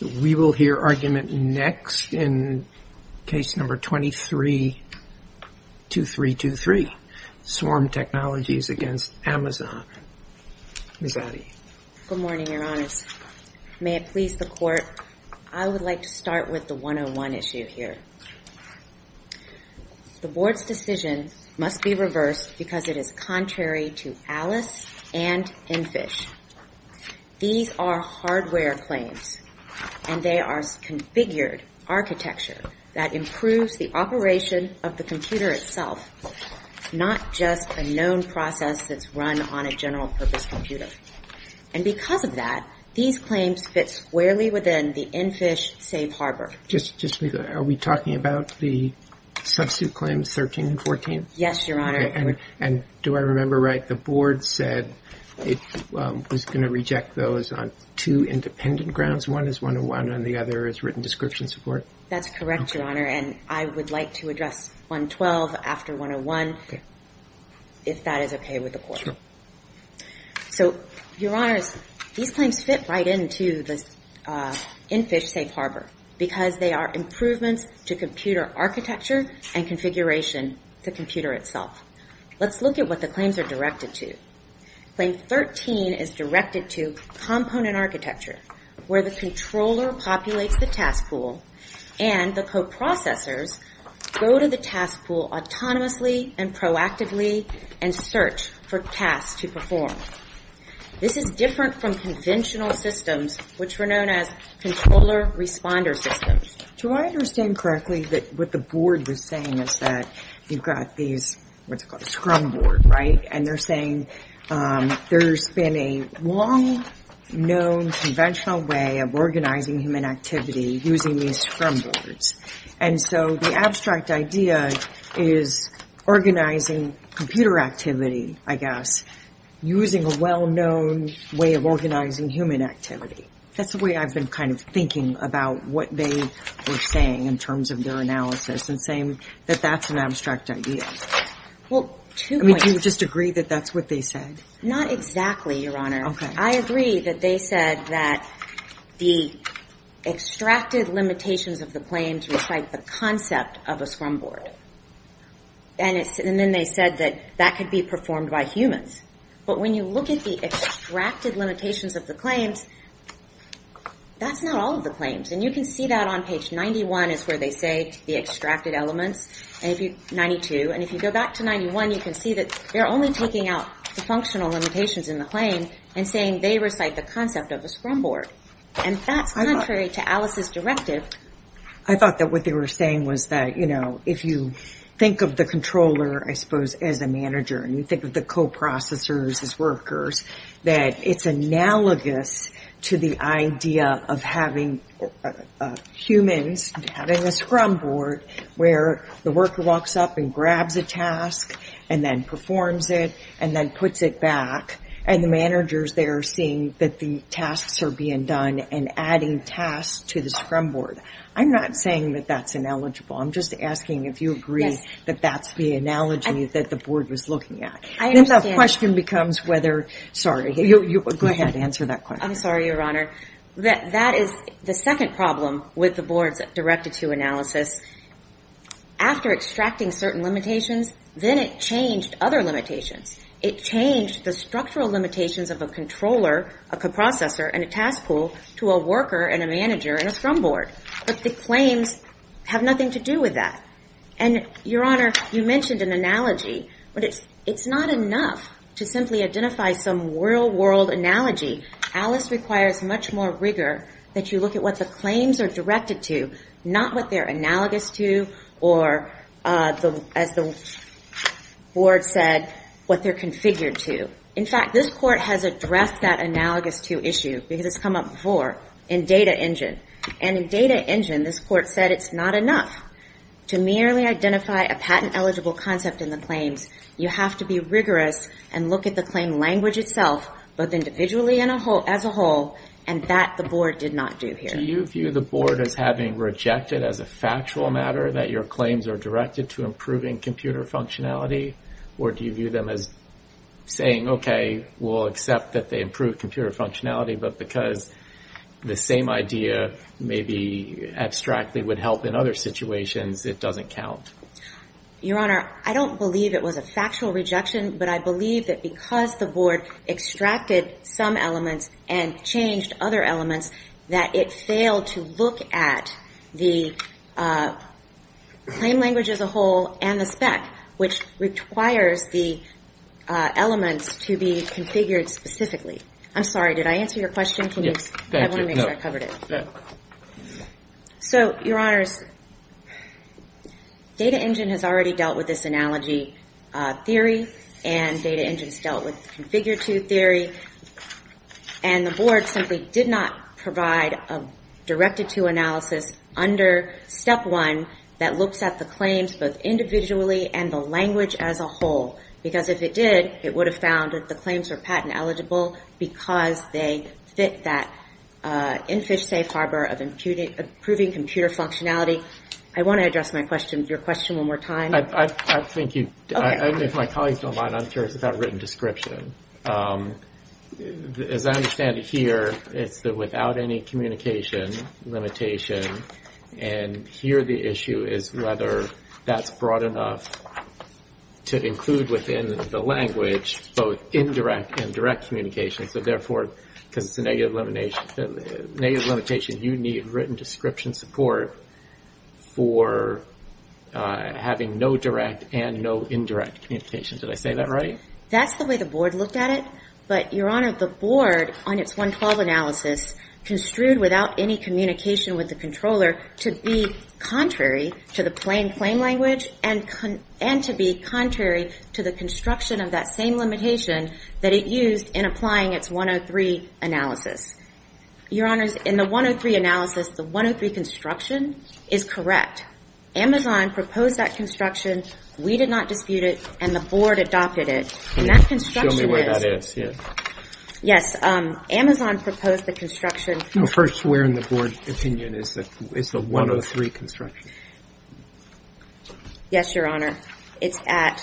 We will hear argument next in case number 232323, Swarm Technologies against Amazon. Good morning, your honors. May it please the court, I would like to start with the 101 issue here. The board's decision must be reversed because it is contrary to Alice and Enfish. These are hardware claims and they are configured architecture that improves the operation of the computer itself, not just a known process that's run on a general purpose computer. And because of that, these claims fit squarely within the Enfish safe harbor. Just are we talking about the substitute claims 13 and 14? Yes, your honor. And do I remember right, the board said it was going to reject those on two independent grounds. One is 101 and the other is written description support. That's correct, your honor. And I would like to address 112 after 101 if that is okay with the court. So your honors, these claims fit right into the Enfish safe harbor because they are improvements to computer architecture and configuration to computer itself. Let's look at what the claims are directed to. Claim 13 is directed to component architecture, where the controller populates the task pool and the coprocessors go to the task pool autonomously and proactively and search for tasks to perform. This is different from conventional systems, which were known as controller responder systems. Do I understand correctly that what the board was saying is that you've got these, what's it called, scrum board, right? And they're saying there's been a long known conventional way of organizing human activity using these scrum boards. And so the abstract idea is organizing computer activity, I guess, using a well-known way of organizing human activity. That's the way I've been kind of thinking about what they were saying in terms of their analysis and saying that that's an abstract idea. Well, two points. I mean, do you just agree that that's what they said? Not exactly, your honor. Okay. I agree that they said that the extracted limitations of the claim to recite the concept of a scrum board. And then they said that that could be performed by humans. But when you look at the extracted limitations of the claims, that's not all of the claims. And you can see that on page 91 is where they say the extracted elements, 92. And if you go back to 91, you can see that they're only taking out the functional limitations in the claim and saying they recite the concept of a scrum board. And that's contrary to Alice's directive. I thought that what they were saying was that, you know, if you think of the controller, I suppose, as a manager, and you think of the co-processors as workers, that it's analogous to the idea of having humans having a scrum board where the worker walks up and grabs a task and then performs it and then puts it back. And the managers, they're seeing that the tasks are being done and adding tasks to the scrum board. I'm not saying that that's ineligible. I'm just asking if you agree that that's the analogy that the board was looking at. And then the question becomes whether, sorry, go ahead, answer that question. I'm sorry, Your Honor. That is the second problem with the board's Directive 2 analysis. After extracting certain limitations, then it changed other limitations. It changed the structural limitations of a controller, a co-processor, and a task pool to a worker and a manager and a scrum board. But the claims have nothing to do with that. And, Your Honor, you mentioned an analogy. But it's not enough to simply identify some real-world analogy. ALICE requires much more rigor that you look at what the claims are directed to, not what they're analogous to or, as the board said, what they're configured to. In fact, this Court has addressed that analogous to issue, because it's come up before, in Data Engine. And in Data Engine, this Court said it's not enough to merely identify a patent-eligible concept in the claims. You have to be rigorous and look at the claim language itself, both individually and as a whole. And that the board did not do here. Do you view the board as having rejected, as a factual matter, that your claims are directed to improving computer functionality? Or do you view them as saying, OK, we'll accept that they improve computer functionality, but because the same idea, maybe abstractly, would help in other situations, it doesn't count? Your Honor, I don't believe it was a factual rejection. But I believe that because the board extracted some elements and changed other elements, that it failed to look at the claim language as a whole and the spec, which requires the elements to be configured specifically. I'm sorry, did I answer your question? I want to make sure I covered it. So, Your Honors, Data Engine has already dealt with this analogy theory, and Data Engine has dealt with the configure-to theory. And the board simply did not provide a directed-to analysis under Step 1 that looks at the claims, both individually and the language as a whole. Because if it did, it would have found that the claims are patent-eligible because they fit that in-fish-safe harbor of improving computer functionality. I want to address your question one more time. I think you, if my colleagues don't mind, I'm curious about a written description. As I understand it here, it's without any communication limitation. And here the issue is whether that's broad enough to include within the language both indirect and direct communication. So, therefore, because it's a negative limitation, you need written description support for having no direct and no indirect communication. Did I say that right? That's the way the board looked at it. But, Your Honor, the board, on its 112 analysis, construed without any communication with the controller to be contrary to the plain claim language and to be contrary to the construction of that same limitation that it used in applying its 103 analysis. Your Honors, in the 103 analysis, the 103 construction is correct. Amazon proposed that construction. We did not dispute it. And the board adopted it. And that construction is- Show me where that is, yes. Yes, Amazon proposed the construction- First, where in the board's opinion is the 103 construction? Yes, Your Honor. It's at...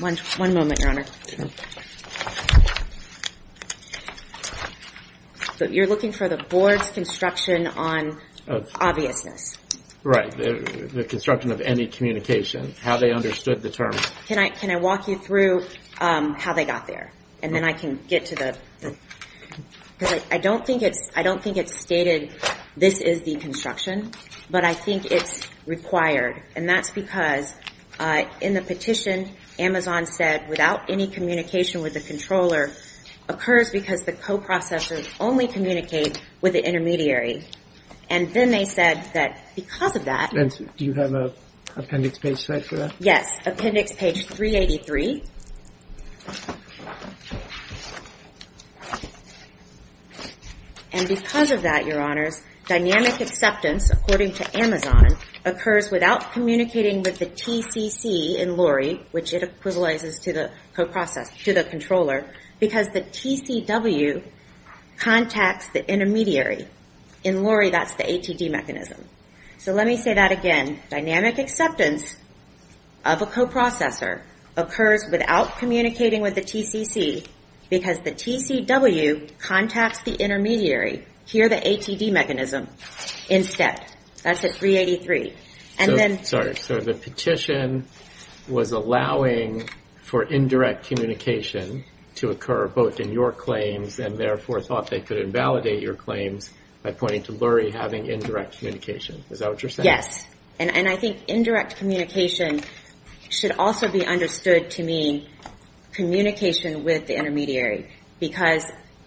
One moment, Your Honor. So, you're looking for the board's construction on obviousness. Right, the construction of any communication, how they understood the term. Can I walk you through how they got there? And then I can get to the... Because I don't think it's stated, this is the construction. But I think it's required. And that's because in the petition, Amazon said, without any communication with the controller, occurs because the co-processors only communicate with the intermediary. And then they said that because of that- And do you have an appendix page set for that? Yes, appendix page 383. And because of that, Your Honors, dynamic acceptance, according to Amazon, occurs without communicating with the TCC in LORRI, which it equivalences to the co-processor, to the controller, because the TCW contacts the intermediary. In LORRI, that's the ATD mechanism. So, let me say that again. Dynamic acceptance of a co-processor occurs without communicating with the TCC because the TCW contacts the intermediary, here, the ATD mechanism, instead. That's at 383. Sorry, so the petition was allowing for indirect communication to occur both in your claims, and therefore thought they could invalidate your claims by pointing to LORRI having indirect communication. Is that what you're saying? Yes. And I think indirect communication should also be understood to mean communication with the intermediary, because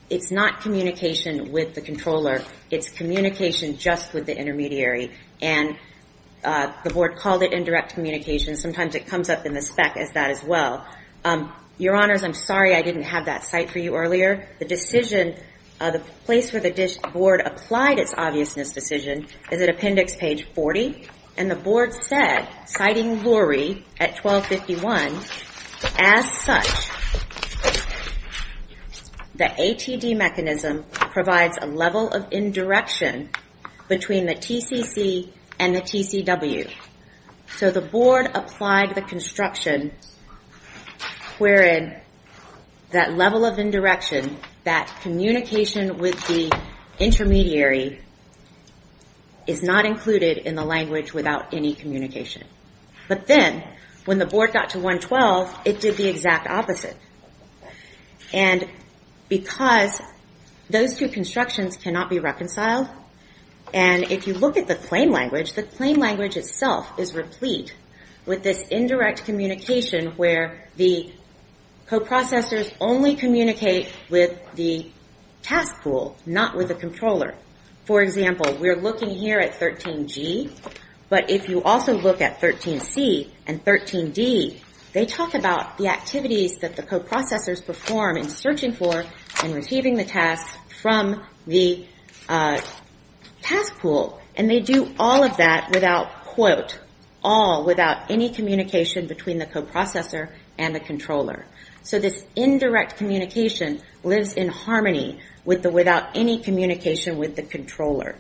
it's not communication with the controller. It's communication just with the intermediary. And the board called it indirect communication. Sometimes it comes up in the spec as that as well. Your Honors, I'm sorry I didn't have that cite for you earlier. The decision, the place where the board applied its obviousness decision is at appendix page 40. And the board said, citing LORRI at 1251, as such, the ATD mechanism provides a level of indirection between the TCC and the TCW. So the board applied the construction wherein that level of indirection, that communication with the intermediary, is not included in the language without any communication. But then when the board got to 112, it did the exact opposite. And because those two constructions cannot be reconciled, and if you look at the claim language, the claim language itself is replete with this indirect communication where the co-processors only communicate with the task pool, not with the controller. For example, we're looking here at 13G, but if you also look at 13C and 13D, they talk about the activities that the co-processors perform in searching for and receiving the tasks from the task pool. And they do all of that without, quote, all without any communication between the co-processor and the controller. So this indirect communication lives in harmony with the without any communication with the controller.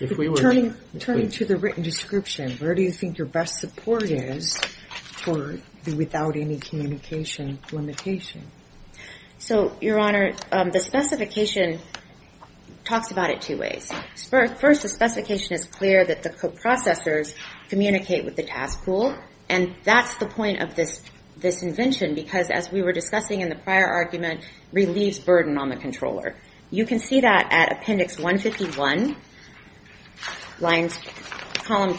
If we were turning to the written description, where do you think your best support is for the without any communication limitation? So, Your Honor, the specification talks about it two ways. First, the specification is clear that the co-processors communicate with the task pool. And that's the point of this invention, because as we were discussing in the prior argument, relieves burden on the controller. You can see that at appendix 151, lines, column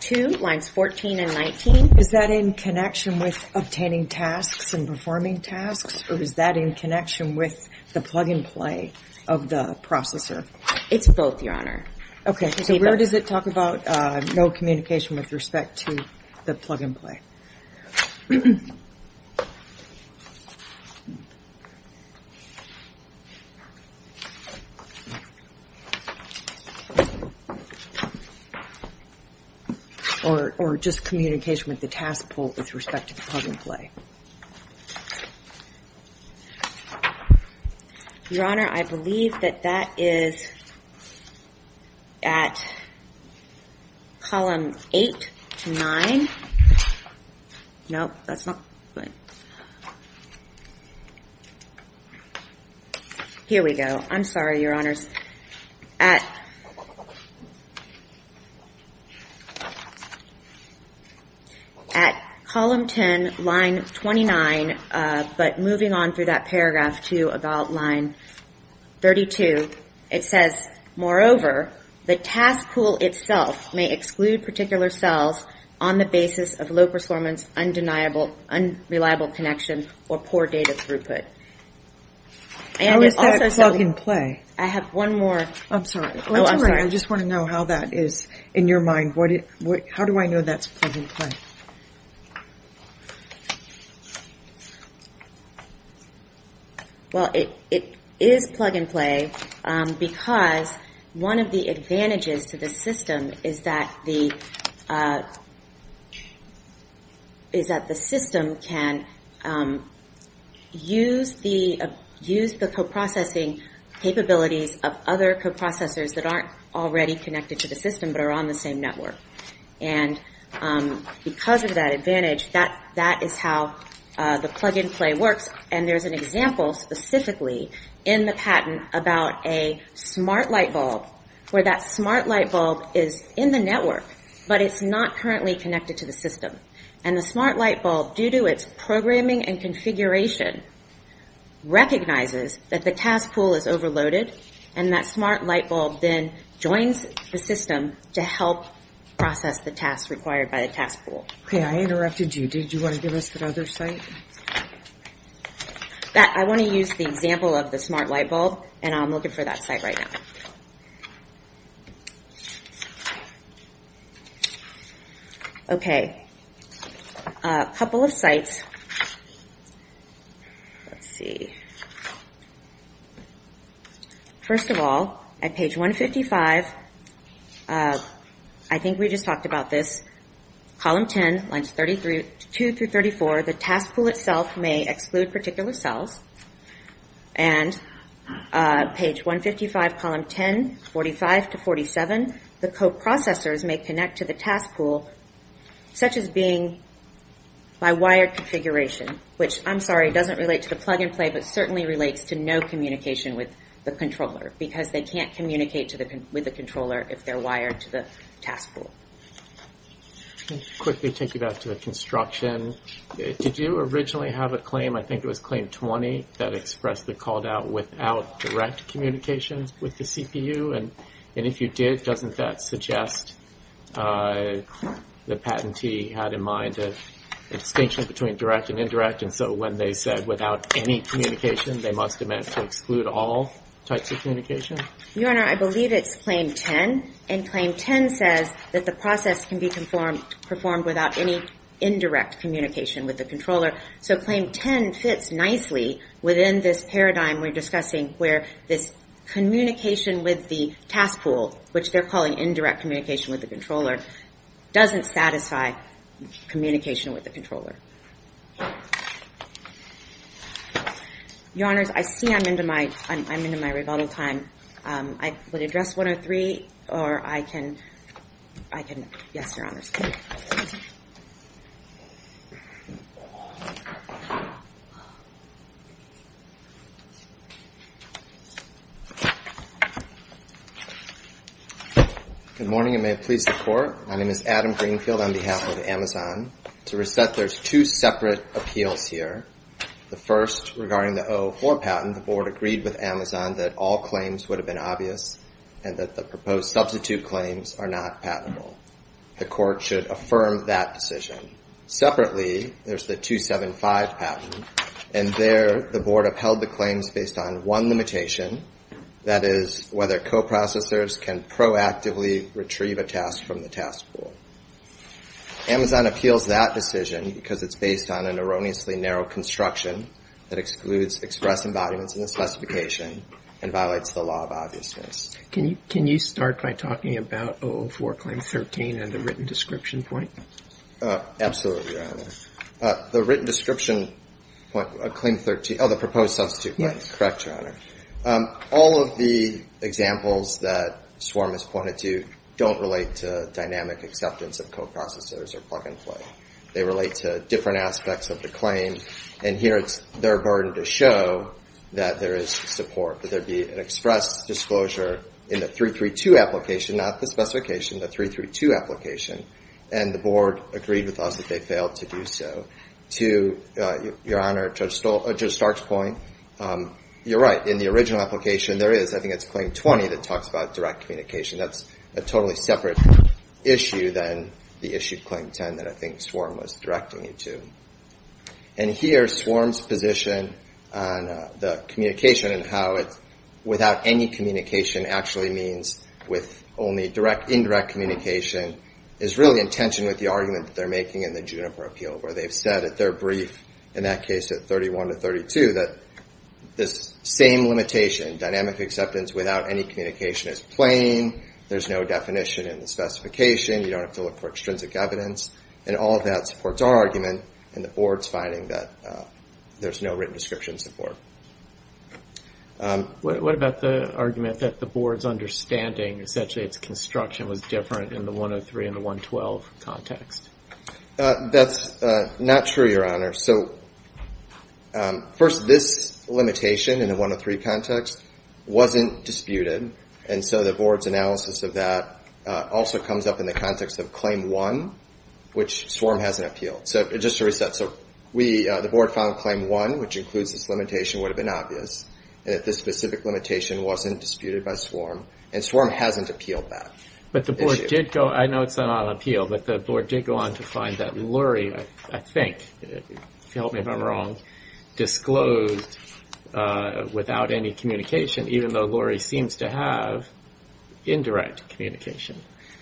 two, lines 14 and 19. Is that in connection with obtaining tasks and performing tasks, or is that in connection with the plug-and-play of the processor? It's both, Your Honor. Okay, so where does it talk about no communication with respect to the plug-and-play? Or just communication with the task pool with respect to the plug-and-play? Your Honor, I believe that that is at column eight to nine. Nope, that's not, wait. Okay, so I believe that's at column eight to nine. Here we go. I'm sorry, Your Honors. At column 10, line 29, but moving on through that paragraph to about line 32, it says, moreover, the task pool itself may exclude particular cells on the basis of low performance, undeniable, unreliable connection, or poor data throughput. How is that plug-and-play? I have one more. I'm sorry. Oh, I'm sorry. I just want to know how that is in your mind. How do I know that's plug-and-play? Well, it is plug-and-play because one of the advantages to the system is that the system can use the coprocessing capabilities of other coprocessors that aren't already connected to the system but are on the same network. And because of that advantage, that is how the plug-and-play works. And there's an example specifically in the patent about a smart light bulb where that smart light bulb is in the network but it's not currently connected to the system. And the smart light bulb, due to its programming and configuration, recognizes that the task pool is overloaded and that smart light bulb then joins the system to help process the tasks required by the task pool. Okay. I interrupted you. Did you want to give us that other site? I want to use the example of the smart light bulb and I'm looking for that site right now. Okay. A couple of sites. Let's see. First of all, at page 155, I think we just talked about this, column 10, lines 2 through 34, the task pool itself may exclude particular cells. And page 155, column 10, 45 to 47, the coprocessors may connect to the task pool such as being by wired configuration, which, I'm sorry, doesn't relate to the plug-and-play but certainly relates to no communication with the controller because they can't communicate with the controller if they're wired to the task pool. Let me quickly take you back to the construction. Did you originally have a claim, I think it was claim 20, that expressly called out without direct communications with the CPU? And if you did, doesn't that suggest the patentee had in mind a distinction between direct and indirect? And so when they said without any communication, they must have meant to exclude all types of communication? Your Honor, I believe it's claim 10. And claim 10 says that the process can be performed without any indirect communication with the controller. So claim 10 fits nicely within this paradigm we're discussing where this communication with the task pool, which they're calling indirect communication with the controller, doesn't satisfy communication with the controller. Your Honors, I see I'm into my rebuttal time. I would address 103, or I can, yes, Your Honors. Good morning, and may it please the Court. My name is Adam Greenfield on behalf of Amazon. To reset, there's two separate appeals here. The first regarding the 04 patent, the Board agreed with Amazon that all claims would have been obvious and that the proposed substitute claims are not patentable. The Court should affirm that decision. Separately, there's the 275 patent. And there, the Board upheld the claims based on one limitation, that is whether co-processors can proactively retrieve a task from the task pool. Amazon appeals that decision because it's based on an erroneously narrow construction that excludes express embodiments in the specification and violates the law of obviousness. Can you start by talking about 04, claim 13, and the written description point? Absolutely, Your Honor. The written description point, claim 13, the proposed substitute claim. Correct, Your Honor. All of the examples that Swarm has pointed to don't relate to dynamic acceptance of co-processors or plug-and-play. They relate to different aspects of the claim. And here, it's their burden to show that there is support, that there be an express disclosure in the 332 application, not the specification, the 332 application. And the Board agreed with us that they failed to do so. To, Your Honor, Judge Stark's point, you're right, in the original application, there is, I think it's claim 20 that talks about direct communication. That's a totally separate issue than the issue of claim 10 that I think Swarm was directing you to. And here, Swarm's position on the communication and how it's without any communication actually means with only indirect communication is really in tension with the argument that they're making in the Juniper Appeal, where they've said at their brief, in that case, at 31 to 32, that this same limitation, dynamic acceptance without any communication is plain. There's no definition in the specification. You don't have to look for extrinsic evidence. And all of that supports our argument in the Board's finding that there's no written description support. What about the argument that the Board's understanding, essentially, its construction was different in the 103 and the 112 context? That's not true, Your Honor. So first, this limitation in the 103 context wasn't disputed. And so the Board's analysis of that also comes up in the context of claim one, which Swarm hasn't appealed. So just to reset, so the Board found claim one, which includes this limitation, would have been obvious. And that this specific limitation wasn't disputed by Swarm. And Swarm hasn't appealed that. But the Board did go, I know it's not on appeal, but the Board did go on to find that Lurie, I think, if you help me if I'm wrong, disclosed without any communication, even though Lurie seems to have indirect communication.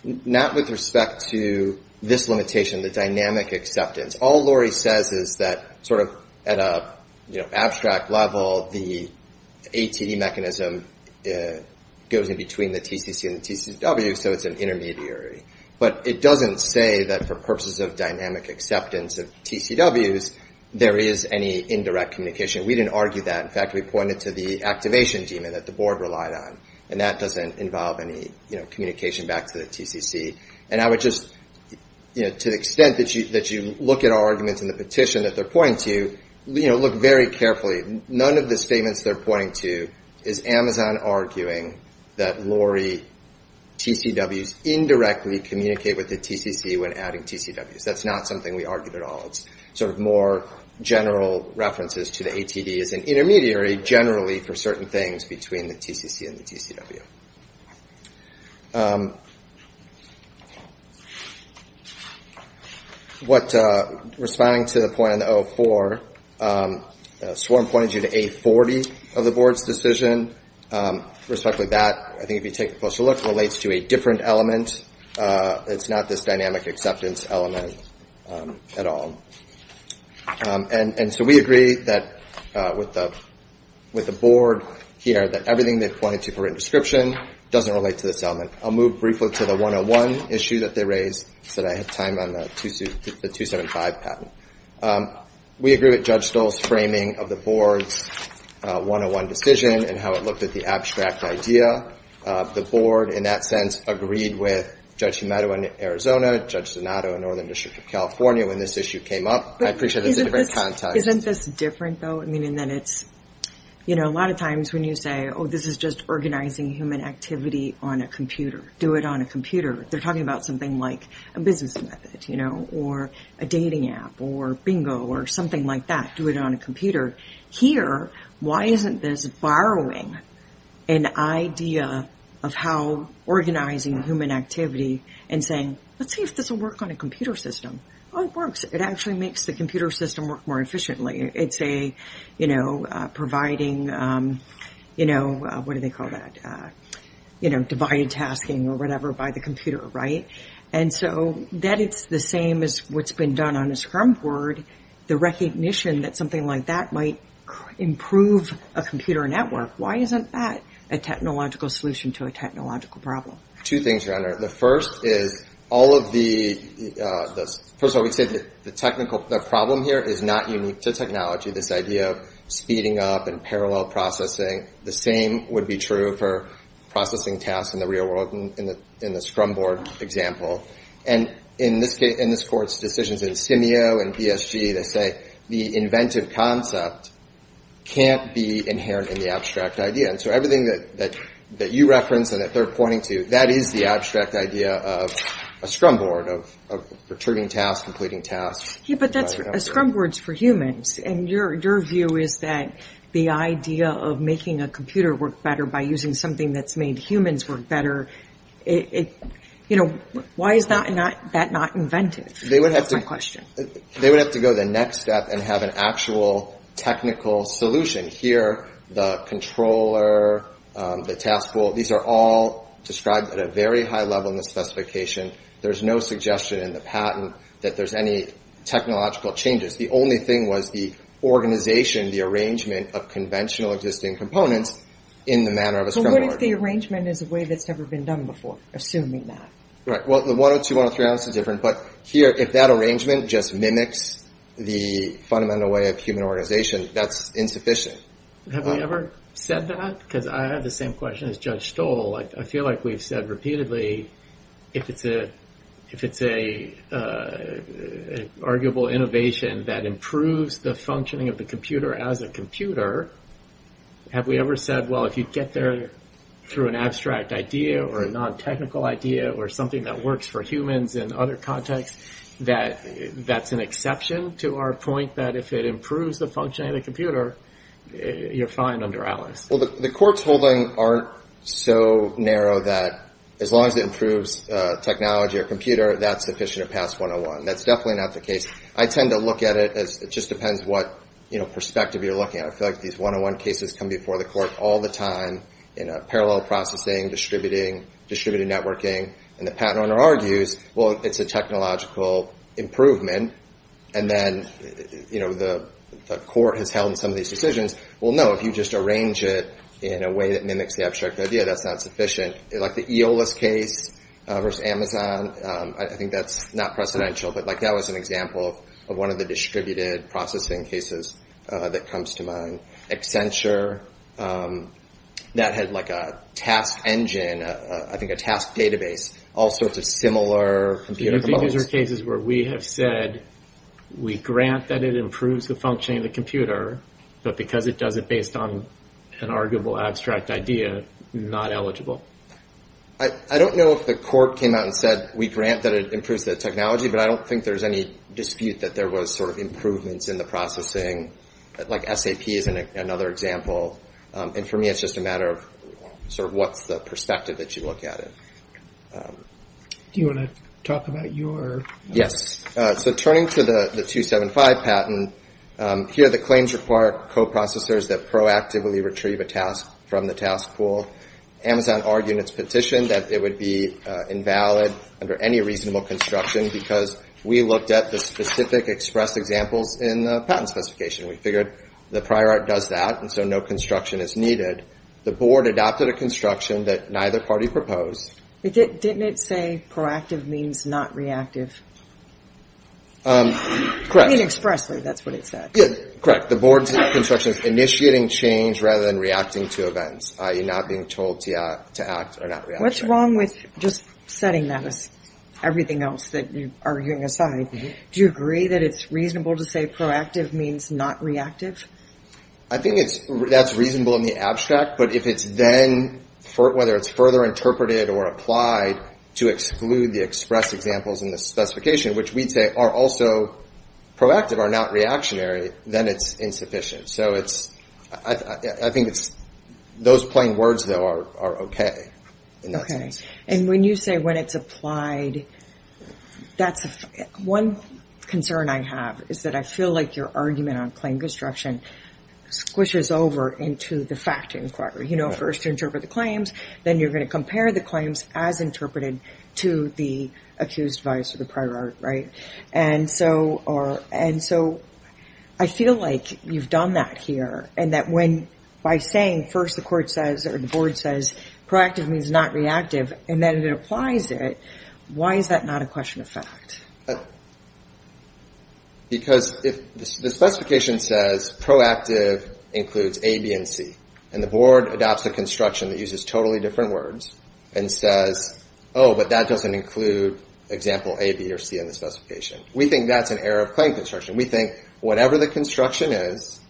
Not with respect to this limitation, the dynamic acceptance. All Lurie says is that, sort of at an abstract level, the ATE mechanism goes in between the TCC and the TCW, so it's an intermediary. But it doesn't say that for purposes of dynamic acceptance of TCWs, there is any indirect communication. We didn't argue that. In fact, we pointed to the activation daemon that the Board relied on. And that doesn't involve any communication back to the TCC. And I would just, to the extent that you look at our arguments in the petition that they're pointing to, look very carefully. None of the statements they're pointing to is Amazon arguing that Lurie TCWs indirectly communicate with the TCC when adding TCWs. That's not something we argued at all. It's sort of more general references to the ATD as an intermediary, generally, for certain things between the TCC and the TCW. What, responding to the point on the 04, Swarm pointed you to A40 of the Board's decision. Respect to that, I think if you take a closer look, it relates to a different element. It's not this dynamic acceptance element at all. And so we agree that with the Board here that everything they've pointed to for written description doesn't relate to this element. I'll move briefly to the 101 issue that they raised so that I have time on the 275 patent. We agree with Judge Stoll's framing of the Board's 101 decision and how it looked at the abstract idea of the Board in that sense agreed with Judge Humado in Arizona, Judge Donato in Northern District of California when this issue came up. I appreciate it's a different context. Isn't this different though? I mean, in that it's, you know, a lot of times when you say, oh, this is just organizing human activity on a computer, do it on a computer. They're talking about something like a business method, you know, or a dating app or bingo or something like that. Do it on a computer. Here, why isn't this borrowing an idea of how organizing human activity and saying, let's see if this will work on a computer system. Oh, it works. It actually makes the computer system work more efficiently. It's a, you know, providing, you know, what do they call that? You know, divided tasking or whatever by the computer, right? And so that it's the same as what's been done on a scrum board, the recognition that something like that might improve a computer network. Why isn't that a technological solution to a technological problem? Two things, your honor. The first is all of the, first of all, we'd say that the technical, the problem here is not unique to technology. This idea of speeding up and parallel processing, the same would be true for processing tasks in the real world in the scrum board example. And in this case, in this court's decisions in SCIMEO and PSG, they say the inventive concept can't be inherent in the abstract idea. And so everything that you referenced and that they're pointing to, that is the abstract idea of a scrum board, of returning tasks, completing tasks. Yeah, but that's a scrum board's for humans. And your view is that the idea of making a computer work better by using something that's made humans work better, you know, why is that not inventive? They would have to go the next step and have an actual technical solution. Here, the controller, the task pool, these are all described at a very high level in the specification. There's no suggestion in the patent that there's any technological changes. The only thing was the organization, the arrangement of conventional existing components in the manner of a scrum board. But what if the arrangement is a way that's never been done before, assuming that? Right, well, the 102, 103 answer is different. But here, if that arrangement just mimics the fundamental way of human organization, that's insufficient. Have we ever said that? Because I have the same question as Judge Stoll. I feel like we've said repeatedly, if it's an arguable innovation that improves the functioning of the computer as a computer, have we ever said, well, if you get there through an abstract idea or a non-technical idea or something that works for humans in other contexts, that's an exception to our point that if it improves the functioning of the computer, you're fine under Alice. Well, the court's holding aren't so narrow that as long as it improves technology or computer, that's sufficient to pass 101. That's definitely not the case. I tend to look at it as it just depends what, you know, perspective you're looking at. I feel like these 101 cases come before the court all the time in a parallel processing, distributing, distributed networking. And the patent owner argues, well, it's a technological improvement. And then, you know, the court has held some of these decisions. Well, no, if you just arrange it in a way that mimics the abstract idea, that's not sufficient. Like the EOLAS case versus Amazon, I think that's not precedential. But like that was an example of one of the distributed processing cases that comes to mind. Accenture, that had like a task engine, I think a task database, all sorts of similar computer models. These are cases where we have said, we grant that it improves the functioning of the computer, but because it does it based on an arguable abstract idea, not eligible. I don't know if the court came out and said, we grant that it improves the technology, but I don't think there's any dispute that there was sort of improvements in the processing. Like SAP is another example. And for me, it's just a matter of sort of what's the perspective that you look at it. Do you want to talk about your? So turning to the 275 patent, here the claims require co-processors that proactively retrieve a task from the task pool. Amazon argued in its petition that it would be invalid under any reasonable construction, because we looked at the specific expressed examples in the patent specification. We figured the prior art does that, and so no construction is needed. The board adopted a construction that neither party proposed. Didn't it say proactive means not reactive? I mean expressly, that's what it said. Yeah, correct. The board's construction is initiating change rather than reacting to events, i.e. not being told to act or not react. What's wrong with just setting that as everything else that you're arguing aside? Do you agree that it's reasonable to say proactive means not reactive? I think that's reasonable in the abstract, but if it's then, whether it's further interpreted or applied to exclude the expressed examples in the specification, which we'd say are also proactive, are not reactionary, then it's insufficient. So it's, I think it's, those plain words though are okay. Okay, and when you say when it's applied, that's one concern I have is that I feel like your argument on claim construction squishes over into the fact inquiry. You know, first interpret the claims, then you're going to compare the claims as interpreted to the accused vice or the prior art, right? And so I feel like you've done that here and that when by saying first the court says or the board says proactive means not reactive and then it applies it, why is that not a question of fact? Because if the specification says proactive includes A, B, and C and the board adopts a construction that uses totally different words and says, oh, but that doesn't include example A, B, or C in the specification. We think that's an error of claim construction. We think whatever the construction is,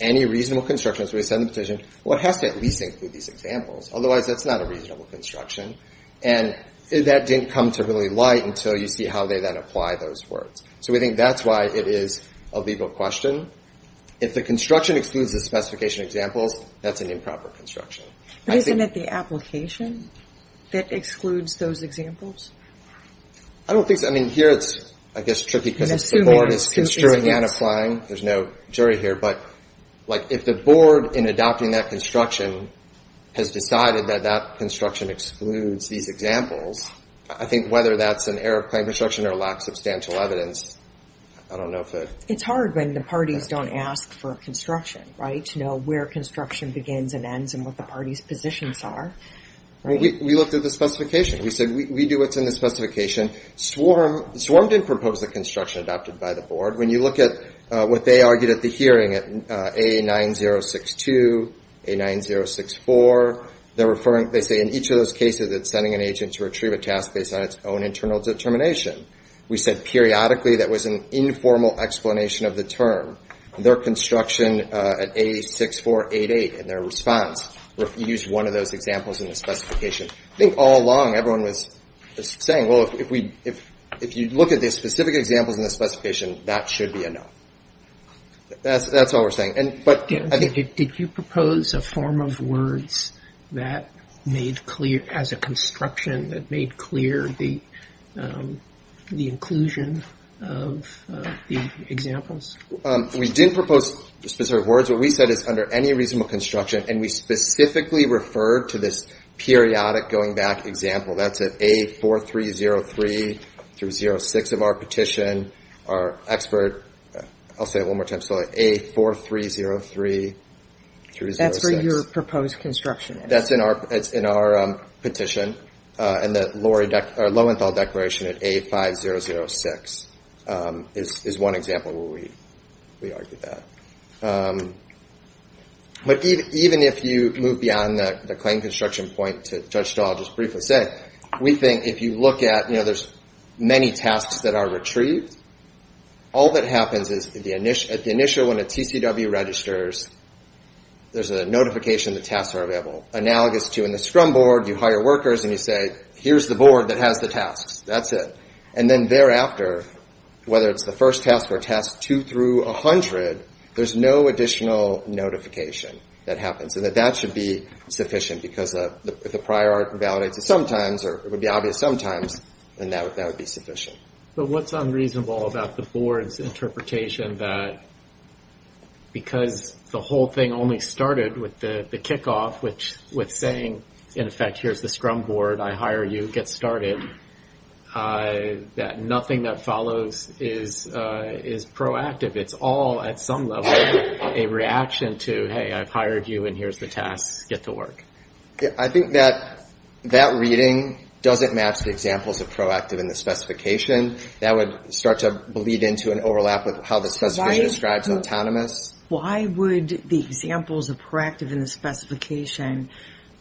any reasonable construction as we said in the petition, well, it has to at least include these examples. Otherwise, that's not a reasonable construction. And that didn't come to really light until you see how they then apply those words. So we think that's why it is a legal question. If the construction excludes the specification examples, that's an improper construction. Isn't it the application that excludes those examples? I don't think so. I mean, here it's, I guess, tricky because the board is construing and applying. There's no jury here. But if the board in adopting that construction has decided that that construction excludes these examples, I think whether that's an error of claim construction or lacks substantial evidence, I don't know if it... It's hard when the parties don't ask for construction, right? To know where construction begins and ends and what the party's positions are. We looked at the specification. We said, we do what's in the specification. Swarm didn't propose the construction adopted by the board. When you look at what they argued at the hearing at A9062, A9064, they say in each of those cases, it's sending an agent to retrieve a task based on its own internal determination. We said periodically that was an informal explanation of the term. Their construction at A6488 and their response refused one of those examples in the specification. I think all along, everyone was saying, well, if you look at the specific examples in the specification, that should be a no. That's all we're saying. And, but... Yeah, did you propose a form of words that made clear, as a construction, that made clear the inclusion of the examples? We didn't propose the specific words. What we said is under any reasonable construction, and we specifically referred to this periodic going back example. That's at A4303 through 06 of our petition. Our expert, I'll say it one more time, so A4303 through 06. That's where your proposed construction is. That's in our petition, and the Lowenthal Declaration at A5006 is one example where we argued that. But even if you move beyond the claim construction point to Judge Stahl, I'll just briefly say, we think if you look at, you know, there's many tasks that are retrieved. All that happens is at the initial when a TCW registers, there's a notification the tasks are available. Analogous to in the scrum board, you hire workers, and you say, here's the board that has the tasks. That's it. And then thereafter, whether it's the first task or task two through 100, there's no additional notification that happens, and that that should be sufficient because if the prior art validates it sometimes, or it would be obvious sometimes, then that would be sufficient. But what's unreasonable about the board's interpretation that because the whole thing only started with the kickoff, which with saying, in effect, here's the scrum board, I hire you, get started, that nothing that follows is proactive. It's all, at some level, a reaction to, hey, I've hired you, and here's the tasks, get to work. I think that that reading doesn't match the examples of proactive in the specification. That would start to bleed into an overlap with how the specification describes autonomous. Why would the examples of proactive in the specification,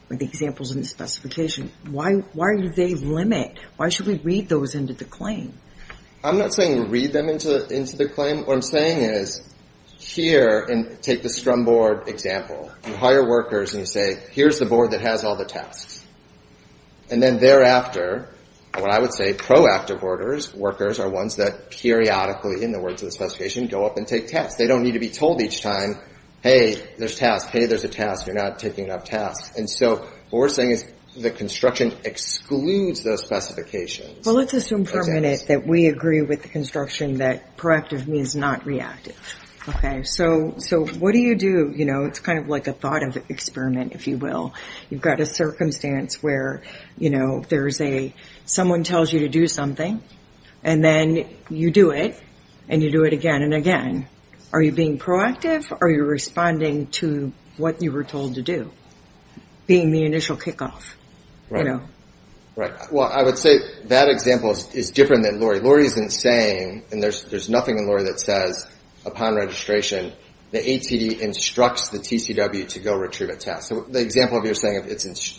with the examples in the specification, why do they limit? Why should we read those into the claim? I'm not saying read them into the claim. What I'm saying is here, and take the scrum board example, you hire workers, and you say, here's the board that has all the tasks. And then thereafter, what I would say, proactive workers are ones that periodically, in the words of the specification, go up and take tasks. They don't need to be told each time, hey, there's tasks. Hey, there's a task. You're not taking up tasks. And so what we're saying is the construction excludes those specifications. Well, let's assume for a minute that we agree with the construction that proactive means not reactive. OK, so what do you do? It's kind of like a thought experiment, if you will. You've got a circumstance where there's a, someone tells you to do something, and then you do it, and you do it again and again. Are you being proactive? Are you responding to what you were told to do? Being the initial kickoff. Right, well, I would say that example is different than Laurie. Laurie isn't saying, and there's nothing in Laurie that says upon registration the ATD instructs the TCW to go retrieve a task. So the example of you're saying if it's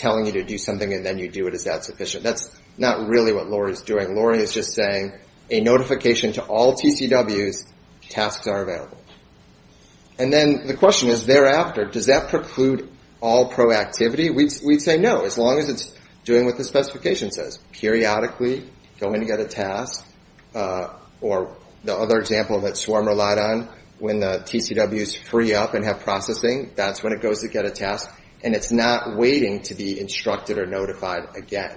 telling you to do something and then you do it, is that sufficient? That's not really what Laurie is doing. Laurie is just saying a notification to all TCWs, tasks are available. And then the question is thereafter, does that preclude all proactivity? We'd say no, as long as it's doing what the specification says. Periodically, going to get a task. Or the other example that Swarm relied on, when the TCWs free up and have processing, that's when it goes to get a task, and it's not waiting to be instructed or notified again.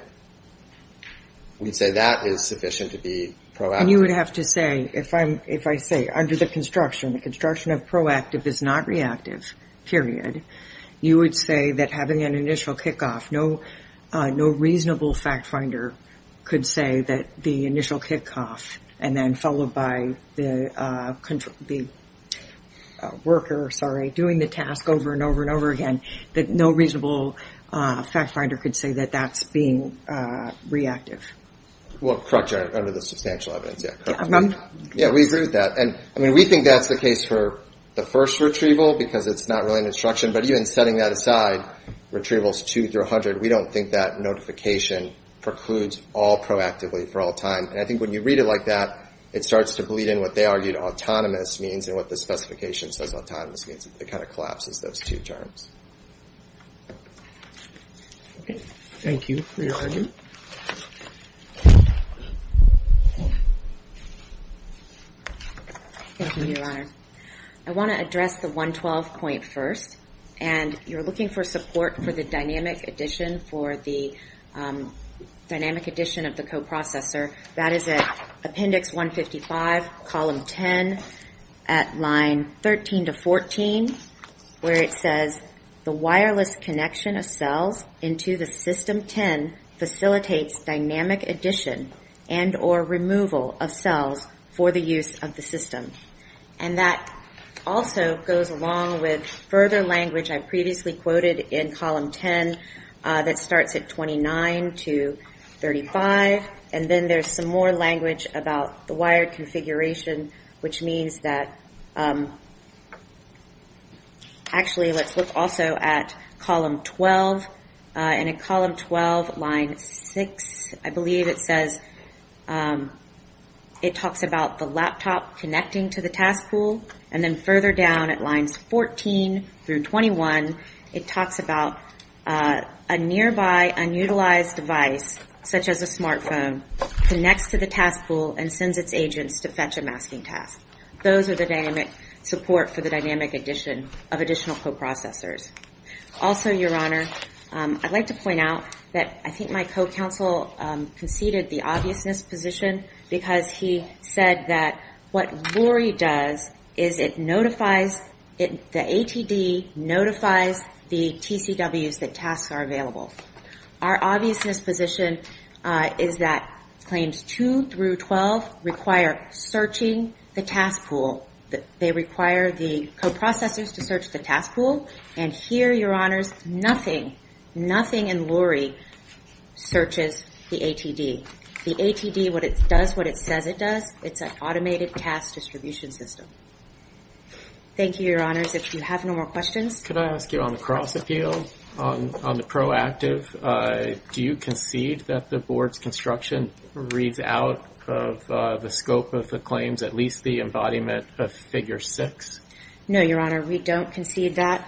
We'd say that is sufficient to be proactive. And you would have to say, if I say under the construction, the construction of proactive is not reactive, period, you would say that having an initial kickoff, no reasonable fact finder could say that the initial kickoff, and then followed by the worker, sorry, doing the task over and over and over again, that no reasonable fact finder could say that that's being reactive. Well, correct under the substantial evidence. Yeah, we agree with that. We think that's the case for the first retrieval, because it's not really an instruction. But even setting that aside, retrievals two through 100, we don't think that notification precludes all proactively for all time. And I think when you read it like that, it starts to bleed in what they argued autonomous means, and what the specification says autonomous means. It kind of collapses those two terms. Okay. Thank you for your argument. Thank you, Your Honor. I want to address the 112 point first. And you're looking for support for the dynamic addition for the dynamic addition of the coprocessor. That is at appendix 155, column 10, at line 13 to 14, where it says, the wireless connection of cells into the system 10 facilitates dynamic addition and or removal of cells for the use of the system. And that also goes along with further language I previously quoted in column 10. That starts at 29 to 35. And then there's some more language about the wired configuration, which means that, actually, let's look also at column 12. And in column 12, line six, I believe it says, it talks about the laptop connecting to the task pool. And then further down at lines 14 through 21, it talks about a nearby unutilized device, such as a smartphone, connects to the task pool and sends its agents to fetch a masking task. Those are the dynamic support for the dynamic addition of additional coprocessors. Also, Your Honor, I'd like to point out that I think my co-counsel conceded the obviousness position because he said that what Rory does is it notifies, the ATD notifies the TCWs that tasks are available. Our obviousness position is that claims two through 12 require searching the task pool. They require the coprocessors to search the task pool. And here, Your Honors, nothing, nothing in Lory searches the ATD. The ATD, what it does, what it says it does, it's an automated task distribution system. Thank you, Your Honors. If you have no more questions. Could I ask you on the cross appeal, on the proactive, do you concede that the board's construction reads out of the scope of the claims, at least the embodiment of figure six? No, Your Honor, we don't concede that.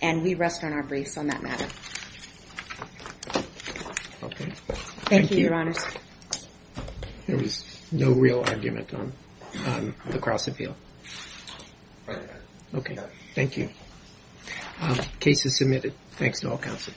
And we rest on our briefs on that matter. Okay. Thank you, Your Honors. There was no real argument on the cross appeal. Thank you. Case is submitted. Thanks to all counsel.